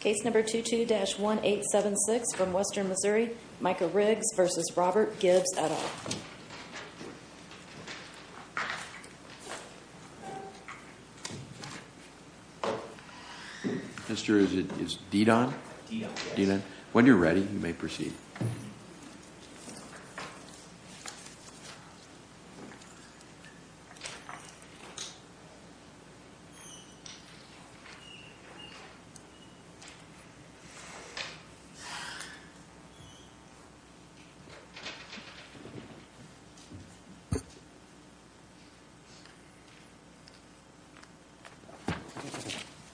Case number 22-1876 from Western Missouri. Micah Riggs v. Robert Gibbs, et al. Mister, is it D-Don? D-Don, yes. When you're ready, you may proceed.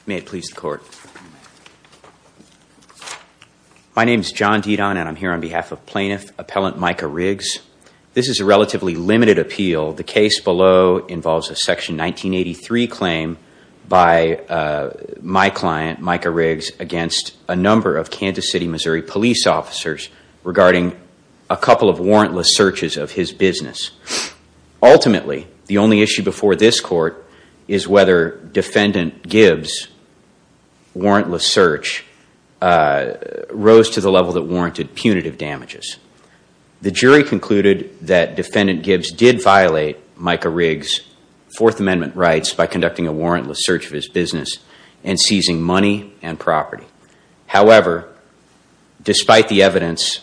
May it please the court. My name is John D-Don and I'm here on behalf of plaintiff appellant Micah Riggs. This is a relatively limited appeal. The case below involves a section 1983 claim by my client Micah Riggs against a number of Kansas City, Missouri police officers regarding a couple of warrantless searches of his business. Ultimately, the only issue before this court is whether defendant Gibbs' warrantless search rose to the level that warranted punitive damages. The jury concluded that defendant Gibbs did violate Micah Riggs' Fourth Amendment rights by conducting a warrantless search of his business and seizing money and property. However, despite the evidence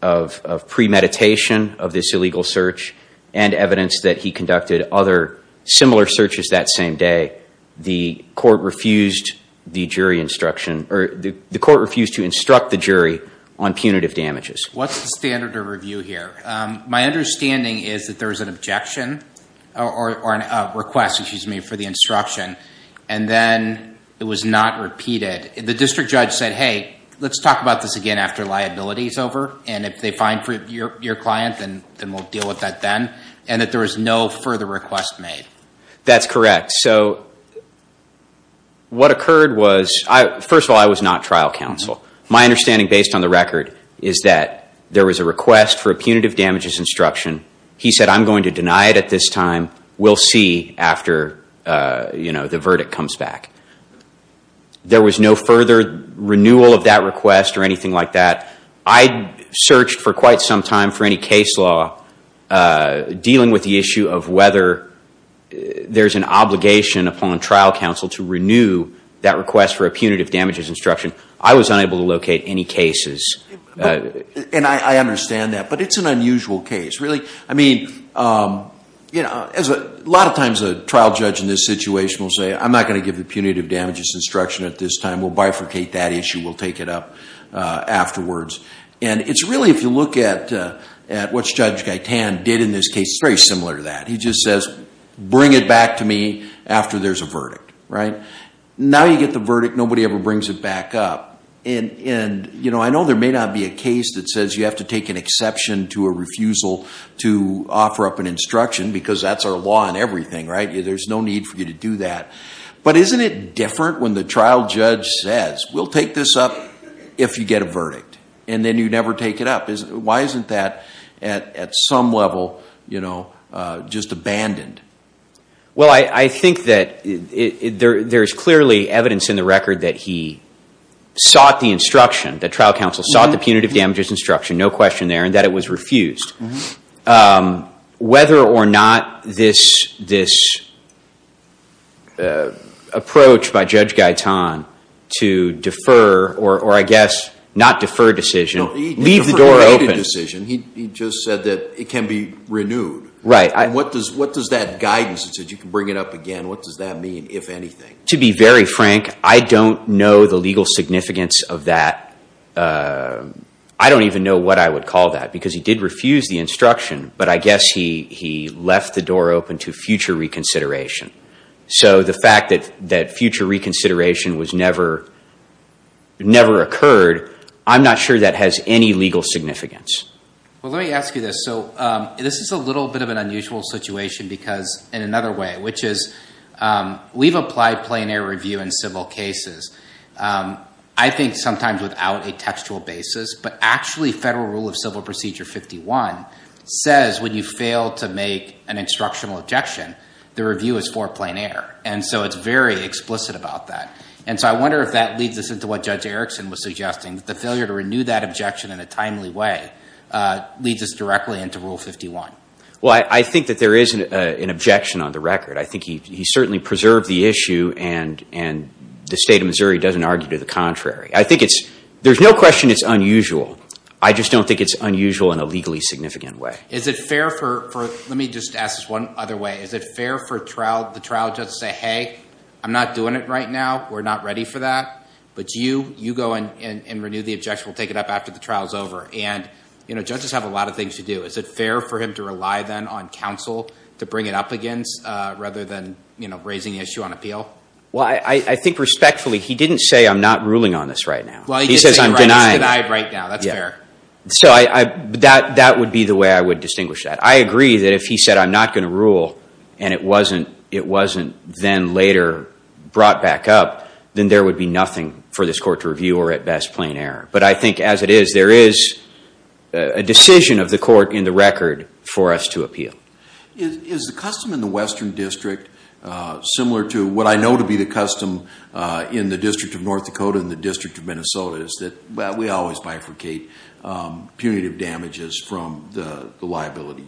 of premeditation of this illegal search and evidence that he conducted other similar searches that same day, the court refused to instruct the jury on punitive damages. What's the standard of review here? My understanding is that there was an objection or a request, excuse me, for the instruction and then it was not repeated. The district judge said, hey, let's talk about this again after liability is over and if they find your client, then we'll deal with that then, and that there was no further request made. That's correct. So what occurred was, first of all, I was not trial counsel. My understanding based on the record is that there was a request for a punitive damages instruction. He said, I'm going to deny it at this time. We'll see after, you know, the verdict comes back. There was no further renewal of that request or anything like that. I searched for quite some time for any case law dealing with the issue of whether there's an obligation upon trial counsel to renew that request for a punitive damages instruction. I was unable to locate any cases. And I understand that, but it's an unusual case, really. I mean, you know, a lot of times a trial judge in this situation will say, I'm not going to give the punitive damages instruction at this time. We'll bifurcate that issue. We'll take it up afterwards. And it's really, if you look at what Judge Gaitan did in this case, it's very similar to that. He just says, bring it back to me after there's a verdict, right? And now you get the verdict. Nobody ever brings it back up. And, you know, I know there may not be a case that says you have to take an exception to a refusal to offer up an instruction, because that's our law and everything, right? There's no need for you to do that. But isn't it different when the trial judge says, we'll take this up if you get a verdict, and then you never take it up? Why isn't that at some level, you know, just abandoned? Well, I think that there's clearly evidence in the record that he sought the instruction, that trial counsel sought the punitive damages instruction, no question there, and that it was refused. Whether or not this approach by Judge Gaitan to defer, or I guess not defer decision, leave the door open. No, he deferred the decision. He just said that it can be renewed. Right. And what does that guidance, it said you can bring it up again, what does that mean, if anything? To be very frank, I don't know the legal significance of that. I don't even know what I would call that, because he did refuse the instruction, but I guess he left the door open to future reconsideration. So the fact that future reconsideration was never occurred, I'm not sure that has any legal significance. Well, let me ask you this. So this is a little bit of an unusual situation because, in another way, which is we've applied plein air review in civil cases, I think sometimes without a textual basis, but actually Federal Rule of Civil Procedure 51 says when you fail to make an instructional objection, the review is for plein air. And so it's very explicit about that. And so I wonder if that leads us into what Judge Erickson was suggesting, that the failure to renew that objection in a timely way leads us directly into Rule 51. Well, I think that there is an objection on the record. I think he certainly preserved the issue, and the State of Missouri doesn't argue to the contrary. I think it's – there's no question it's unusual. I just don't think it's unusual in a legally significant way. Is it fair for – let me just ask this one other way. Is it fair for the trial judge to say, hey, I'm not doing it right now, we're not ready for that, but you go and renew the objection, we'll take it up after the trial is over? And, you know, judges have a lot of things to do. Is it fair for him to rely then on counsel to bring it up against rather than, you know, raising the issue on appeal? Well, I think respectfully he didn't say I'm not ruling on this right now. He says I'm denying it. Well, he did say he's denied right now. That's fair. So that would be the way I would distinguish that. I agree that if he said I'm not going to rule and it wasn't then later brought back up, then there would be nothing for this court to review or, at best, plain error. But I think as it is, there is a decision of the court in the record for us to appeal. Is the custom in the Western District similar to what I know to be the custom in the District of North Dakota and the District of Minnesota is that we always bifurcate punitive damages from the liability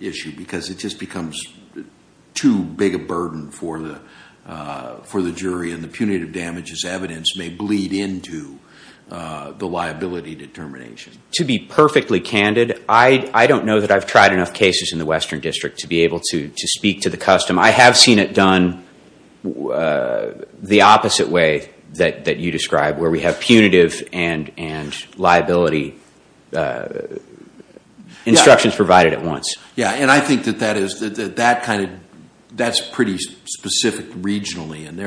issue because it just becomes too big a burden for the jury and the punitive damages evidence may bleed into the liability determination? To be perfectly candid, I don't know that I've tried enough cases in the Western District to be able to speak to the custom. I have seen it done the opposite way that you describe, where we have punitive and liability instructions provided at once. Yes, and I think that that's pretty specific regionally. And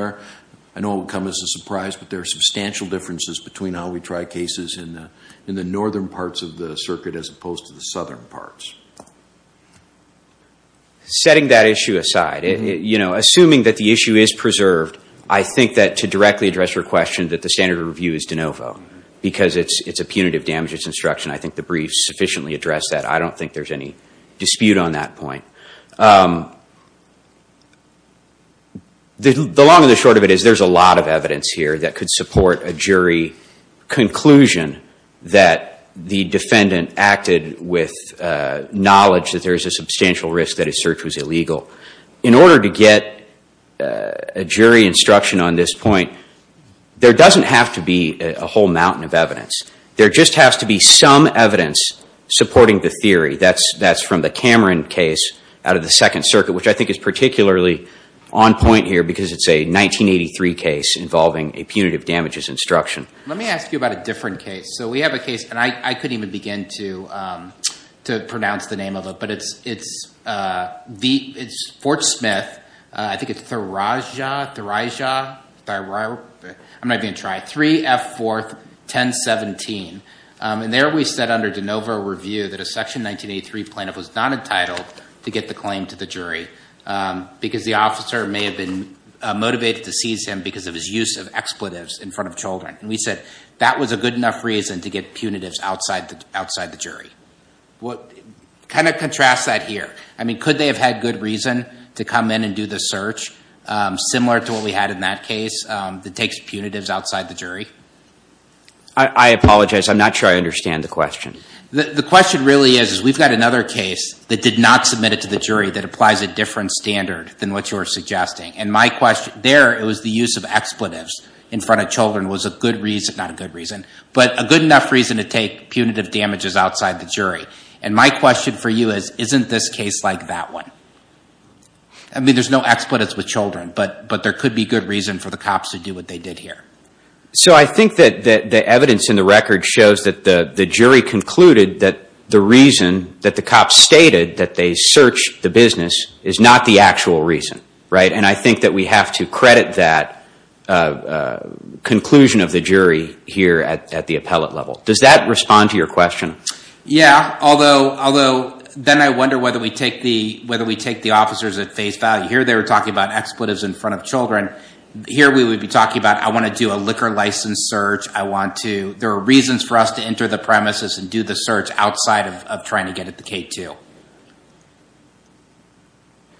I know it would come as a surprise, but there are substantial differences between how we try cases in the northern parts of the circuit as opposed to the southern parts. Setting that issue aside, assuming that the issue is preserved, I think that to directly address your question that the standard of review is de novo because it's a punitive damages instruction. I think the briefs sufficiently address that. I don't think there's any dispute on that point. The long and the short of it is there's a lot of evidence here that could support a jury conclusion that the defendant acted with knowledge that there is a substantial risk that his search was illegal. In order to get a jury instruction on this point, there doesn't have to be a whole mountain of evidence. There just has to be some evidence supporting the theory. That's from the Cameron case out of the Second Circuit, which I think is particularly on point here because it's a 1983 case involving a punitive damages instruction. Let me ask you about a different case. So we have a case, and I couldn't even begin to pronounce the name of it, but it's Fort Smith, I think it's 3F41017. And there we said under de novo review that a Section 1983 plaintiff was not entitled to get the claim to the jury because the officer may have been motivated to seize him because of his use of expletives in front of children. And we said that was a good enough reason to get punitives outside the jury. Kind of contrast that here. I mean, could they have had good reason to come in and do the search similar to what we had in that case that takes punitives outside the jury? I apologize. I'm not sure I understand the question. The question really is we've got another case that did not submit it to the jury that applies a different standard than what you were suggesting. And my question there, it was the use of expletives in front of children was a good reason, And my question for you is, isn't this case like that one? I mean, there's no expletives with children, but there could be good reason for the cops to do what they did here. So I think that the evidence in the record shows that the jury concluded that the reason that the cops stated that they searched the business is not the actual reason, right? And I think that we have to credit that conclusion of the jury here at the appellate level. Does that respond to your question? Yeah, although then I wonder whether we take the officers at face value. Here they were talking about expletives in front of children. Here we would be talking about I want to do a liquor license search. There are reasons for us to enter the premises and do the search outside of trying to get at the K2.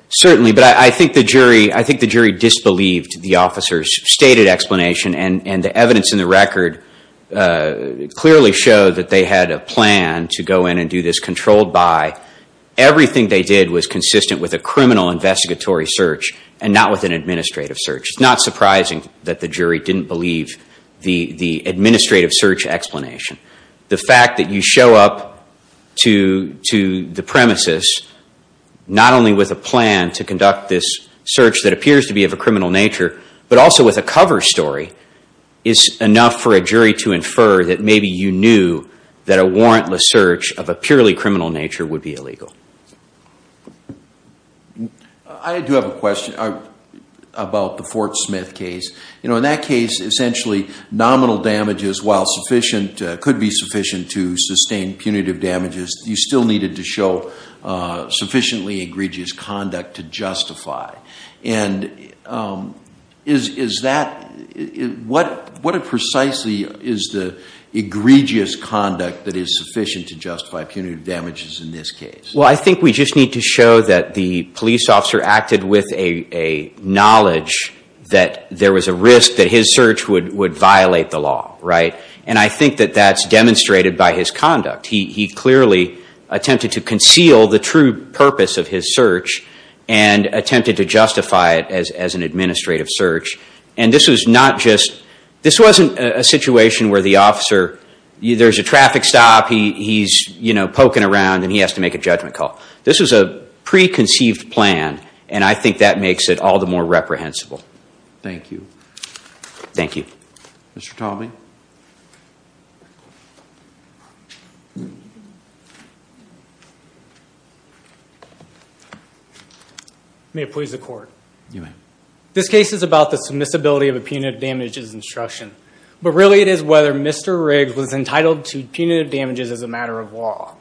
Certainly, but I think the jury disbelieved the officers' stated explanation. And the evidence in the record clearly showed that they had a plan to go in and do this controlled by. Everything they did was consistent with a criminal investigatory search and not with an administrative search. It's not surprising that the jury didn't believe the administrative search explanation. The fact that you show up to the premises not only with a plan to conduct this search that appears to be of a criminal nature, but also with a cover story is enough for a jury to infer that maybe you knew that a warrantless search of a purely criminal nature would be illegal. I do have a question about the Fort Smith case. In that case, essentially nominal damages while sufficient, could be sufficient to sustain punitive damages, you still needed to show sufficiently egregious conduct to justify. And is that, what precisely is the egregious conduct that is sufficient to justify punitive damages in this case? Well, I think we just need to show that the police officer acted with a knowledge that there was a risk that his search would violate the law, right? And I think that that's demonstrated by his conduct. He clearly attempted to conceal the true purpose of his search and attempted to justify it as an administrative search. And this was not just, this wasn't a situation where the officer, there's a traffic stop, he's poking around and he has to make a judgment call. This was a preconceived plan and I think that makes it all the more reprehensible. Thank you. Thank you. Mr. Talby. May it please the court. You may. This case is about the submissibility of a punitive damages instruction. But really it is whether Mr. Riggs was entitled to punitive damages as a matter of law.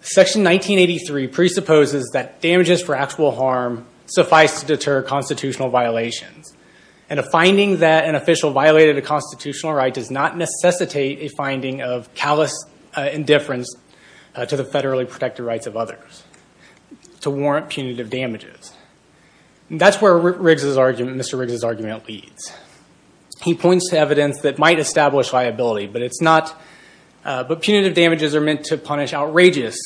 Section 1983 presupposes that damages for actual harm suffice to deter constitutional violations. And a finding that an official violated a constitutional right does not necessitate a finding of callous indifference to the federally protected rights of others. To warrant punitive damages. That's where Mr. Riggs' argument leads. He points to evidence that might establish liability. But it's not, but punitive damages are meant to punish outrageous,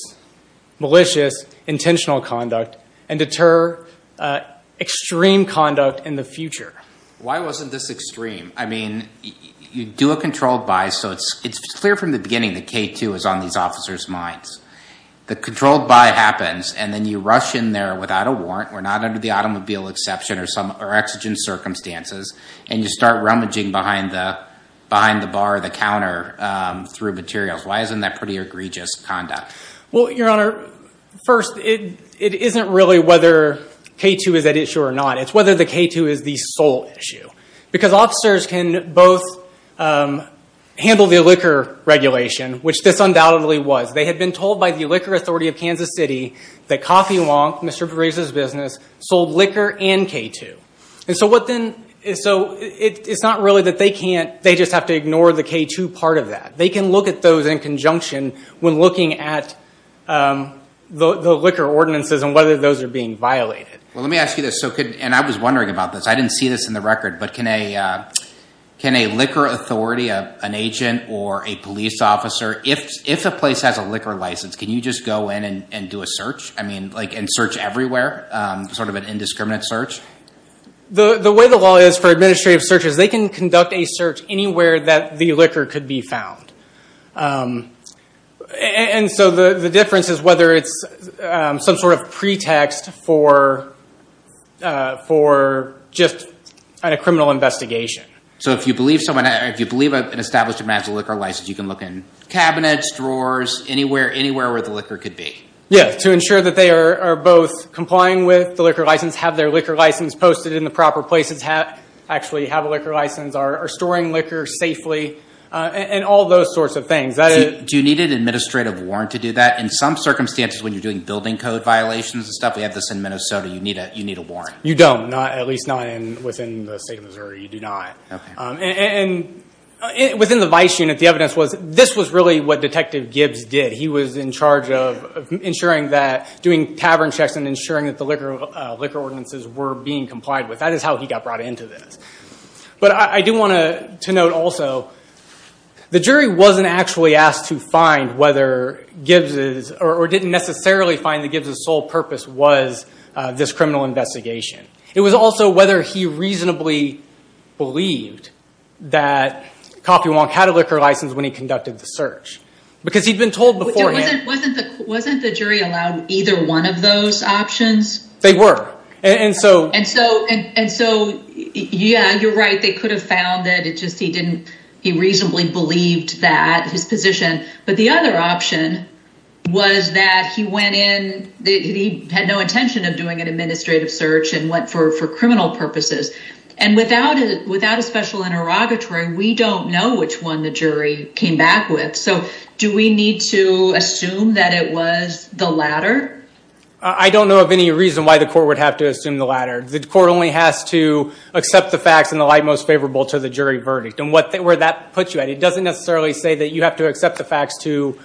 malicious, intentional conduct and deter extreme conduct in the future. Why wasn't this extreme? I mean, you do a controlled buy, so it's clear from the beginning that K2 is on these officers' minds. The controlled buy happens and then you rush in there without a warrant. We're not under the automobile exception or exigent circumstances. And you start rummaging behind the bar or the counter through materials. Why isn't that pretty egregious conduct? Well, Your Honor, first, it isn't really whether K2 is at issue or not. It's whether the K2 is the sole issue. Because officers can both handle the liquor regulation, which this undoubtedly was. They had been told by the Liquor Authority of Kansas City that Coffee Wonk, Mr. Riggs' business, sold liquor and K2. And so it's not really that they can't, they just have to ignore the K2 part of that. They can look at those in conjunction when looking at the liquor ordinances and whether those are being violated. Well, let me ask you this. And I was wondering about this. I didn't see this in the record. But can a Liquor Authority, an agent or a police officer, if a place has a liquor license, can you just go in and do a search? I mean, like, and search everywhere? Sort of an indiscriminate search? The way the law is for administrative searches, they can conduct a search anywhere that the liquor could be found. And so the difference is whether it's some sort of pretext for just a criminal investigation. So if you believe someone, if you believe an establishment has a liquor license, you can look in cabinets, drawers, anywhere where the liquor could be? Yeah, to ensure that they are both complying with the liquor license, have their liquor license posted in the proper place, actually have a liquor license, are storing liquor safely, and all those sorts of things. Do you need an administrative warrant to do that? In some circumstances, when you're doing building code violations and stuff, we have this in Minnesota, you need a warrant. You don't, at least not within the state of Missouri. You do not. And within the vice unit, the evidence was this was really what Detective Gibbs did. He was in charge of ensuring that, doing tavern checks and ensuring that the liquor ordinances were being complied with. That is how he got brought into this. But I do want to note also, the jury wasn't actually asked to find whether Gibbs's, or didn't necessarily find that Gibbs's sole purpose was this criminal investigation. It was also whether he reasonably believed that Coffee Wonk had a liquor license when he conducted the search. Because he'd been told beforehand. Wasn't the jury allowed either one of those options? They were. And so, yeah, you're right. They could have found it. It's just he didn't, he reasonably believed that, his position. But the other option was that he went in, he had no intention of doing an administrative search and went for criminal purposes. And without a special interrogatory, we don't know which one the jury came back with. So do we need to assume that it was the latter? I don't know of any reason why the court would have to assume the latter. The court only has to accept the facts in the light most favorable to the jury verdict. And where that puts you at, it doesn't necessarily say that you have to accept the facts to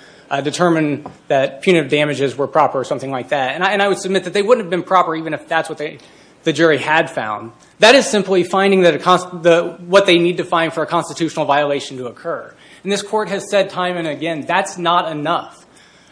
determine that punitive damages were proper or something like that. And I would submit that they wouldn't have been proper even if that's what the jury had found. That is simply finding what they need to find for a constitutional violation to occur. And this court has said time and again, that's not enough.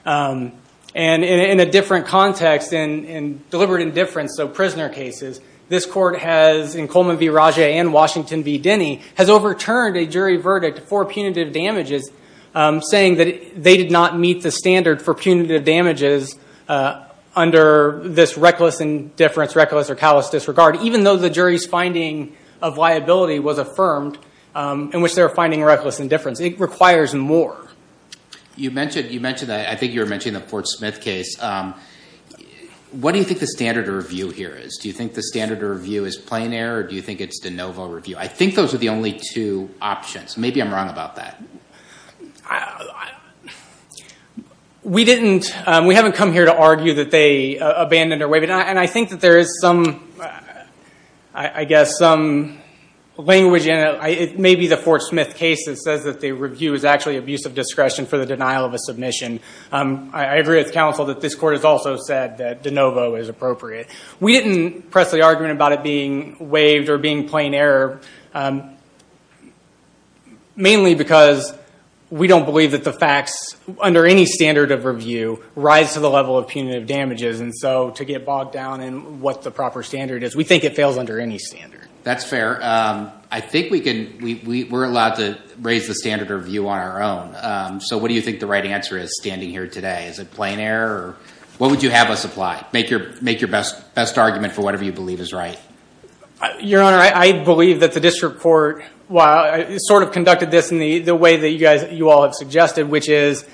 And in a different context, in deliberate indifference, so prisoner cases, this court has, in Coleman v. Rage and Washington v. Denny, has overturned a jury verdict for punitive damages, saying that they did not meet the standard for punitive damages under this reckless indifference, reckless or callous disregard, even though the jury's finding of liability was affirmed in which they were finding reckless indifference. It requires more. You mentioned, I think you were mentioning the Fort Smith case. What do you think the standard of review here is? Do you think the standard of review is plein air, or do you think it's de novo review? I think those are the only two options. Maybe I'm wrong about that. We haven't come here to argue that they abandoned or waived. And I think that there is some, I guess, some language in it. It may be the Fort Smith case that says that the review is actually abuse of discretion for the denial of a submission. I agree with counsel that this court has also said that de novo is appropriate. We didn't press the argument about it being waived or being plein air, mainly because we don't believe that the facts under any standard of review rise to the level of punitive damages. And so to get bogged down in what the proper standard is, we think it fails under any standard. That's fair. I think we're allowed to raise the standard of review on our own. So what do you think the right answer is standing here today? Is it plein air, or what would you have us apply? Make your best argument for whatever you believe is right. Your Honor, I believe that the district court sort of conducted this in the way that you all have suggested, which is,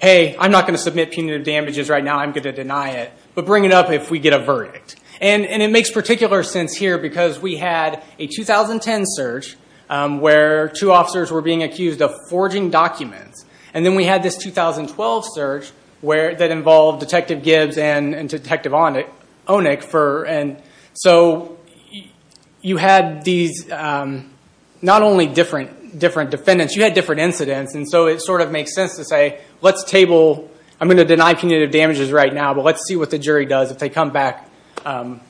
hey, I'm not going to submit punitive damages right now. I'm going to deny it. But bring it up if we get a verdict. And it makes particular sense here because we had a 2010 search where two officers were being accused of forging documents. And then we had this 2012 search that involved Detective Gibbs and Detective Onik. And so you had these not only different defendants, you had different incidents. And so it sort of makes sense to say, let's table. I'm going to deny punitive damages right now, but let's see what the jury does. If they come back, I'll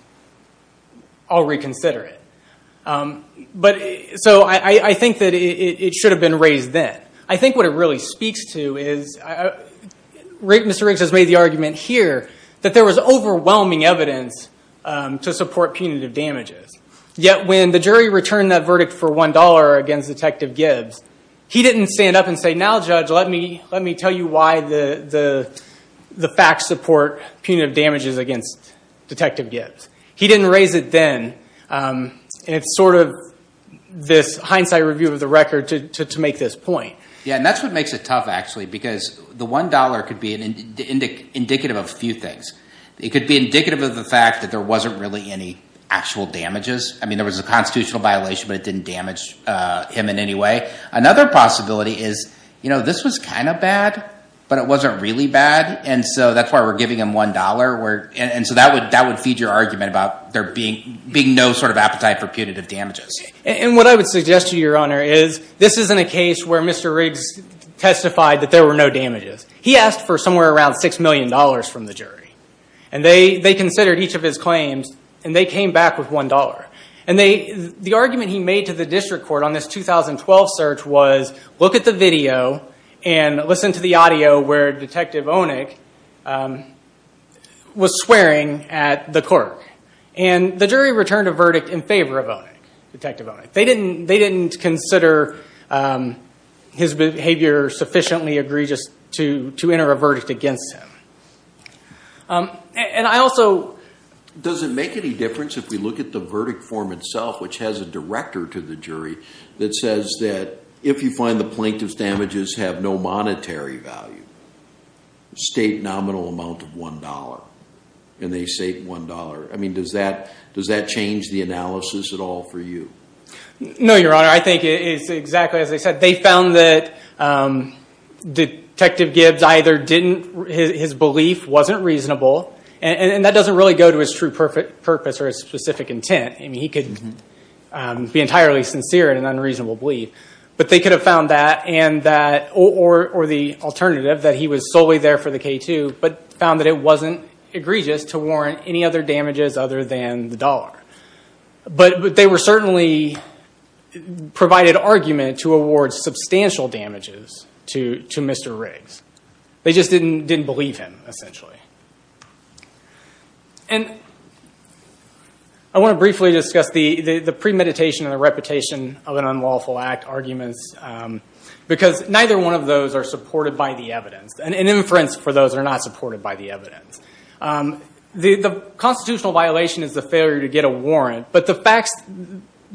reconsider it. So I think that it should have been raised then. I think what it really speaks to is Mr. Riggs has made the argument here that there was overwhelming evidence to support punitive damages. Yet when the jury returned that verdict for $1 against Detective Gibbs, he didn't stand up and say, now, Judge, let me tell you why the facts support punitive damages against Detective Gibbs. He didn't raise it then. And it's sort of this hindsight review of the record to make this point. Yeah, and that's what makes it tough, actually, because the $1 could be indicative of a few things. It could be indicative of the fact that there wasn't really any actual damages. I mean, there was a constitutional violation, but it didn't damage him in any way. Another possibility is this was kind of bad, but it wasn't really bad. And so that's why we're giving him $1. And so that would feed your argument about there being no sort of appetite for punitive damages. And what I would suggest to you, Your Honor, is this isn't a case where Mr. Riggs testified that there were no damages. He asked for somewhere around $6 million from the jury. And they considered each of his claims, and they came back with $1. And the argument he made to the district court on this 2012 search was, look at the video and listen to the audio where Detective Onik was swearing at the clerk. And the jury returned a verdict in favor of Detective Onik. They didn't consider his behavior sufficiently egregious to enter a verdict against him. And I also… Does it make any difference if we look at the verdict form itself, which has a director to the jury, that says that if you find the plaintiff's damages have no monetary value, state nominal amount of $1, and they state $1. I mean, does that change the analysis at all for you? No, Your Honor. I think it's exactly as I said. They found that Detective Gibbs either didn't – his belief wasn't reasonable, and that doesn't really go to his true purpose or his specific intent. I mean, he could be entirely sincere in an unreasonable belief. But they could have found that, or the alternative, that he was solely there for the K2, but found that it wasn't egregious to warrant any other damages other than the dollar. But they certainly provided argument to award substantial damages to Mr. Riggs. They just didn't believe him, essentially. And I want to briefly discuss the premeditation and the repetition of an unlawful act arguments, because neither one of those are supported by the evidence, and inference for those that are not supported by the evidence. The constitutional violation is the failure to get a warrant. But the fact's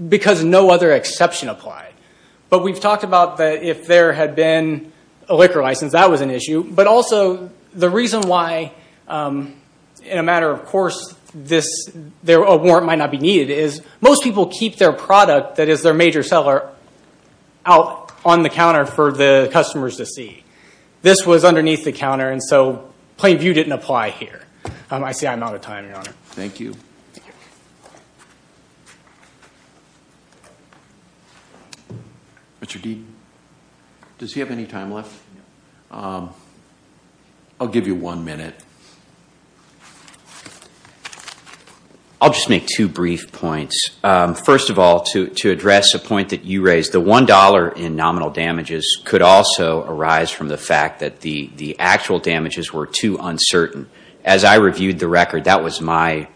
because no other exception applied. But we've talked about that if there had been a liquor license, that was an issue. But also, the reason why, in a matter of course, a warrant might not be needed, is most people keep their product that is their major seller out on the counter for the customers to see. This was underneath the counter, and so plain view didn't apply here. I see I'm out of time, Your Honor. Thank you. Mr. Deaton, does he have any time left? I'll give you one minute. I'll just make two brief points. First of all, to address a point that you raised, the $1 in nominal damages could also arise from the fact that the actual damages were too uncertain. As I reviewed the record, that was my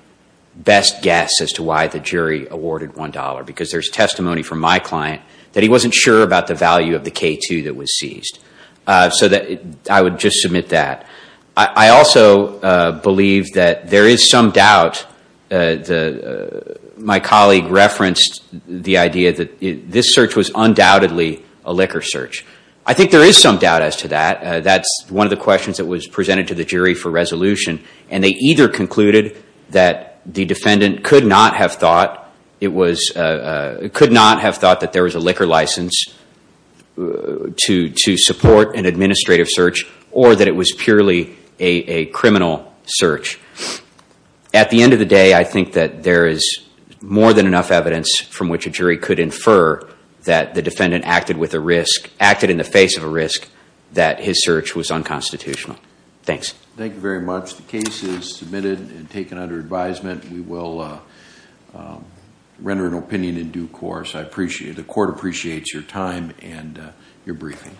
best guess as to why the jury awarded $1, because there's testimony from my client that he wasn't sure about the value of the K2 that was seized. So I would just submit that. I also believe that there is some doubt. My colleague referenced the idea that this search was undoubtedly a liquor search. I think there is some doubt as to that. That's one of the questions that was presented to the jury for resolution, and they either concluded that the defendant could not have thought that there was a liquor license to support an administrative search, or that it was purely a criminal search. At the end of the day, I think that there is more than enough evidence from which a jury could infer that the defendant acted in the face of a risk, that his search was unconstitutional. Thanks. Thank you very much. The case is submitted and taken under advisement. We will render an opinion in due course. I appreciate it. The court appreciates your time and your briefing.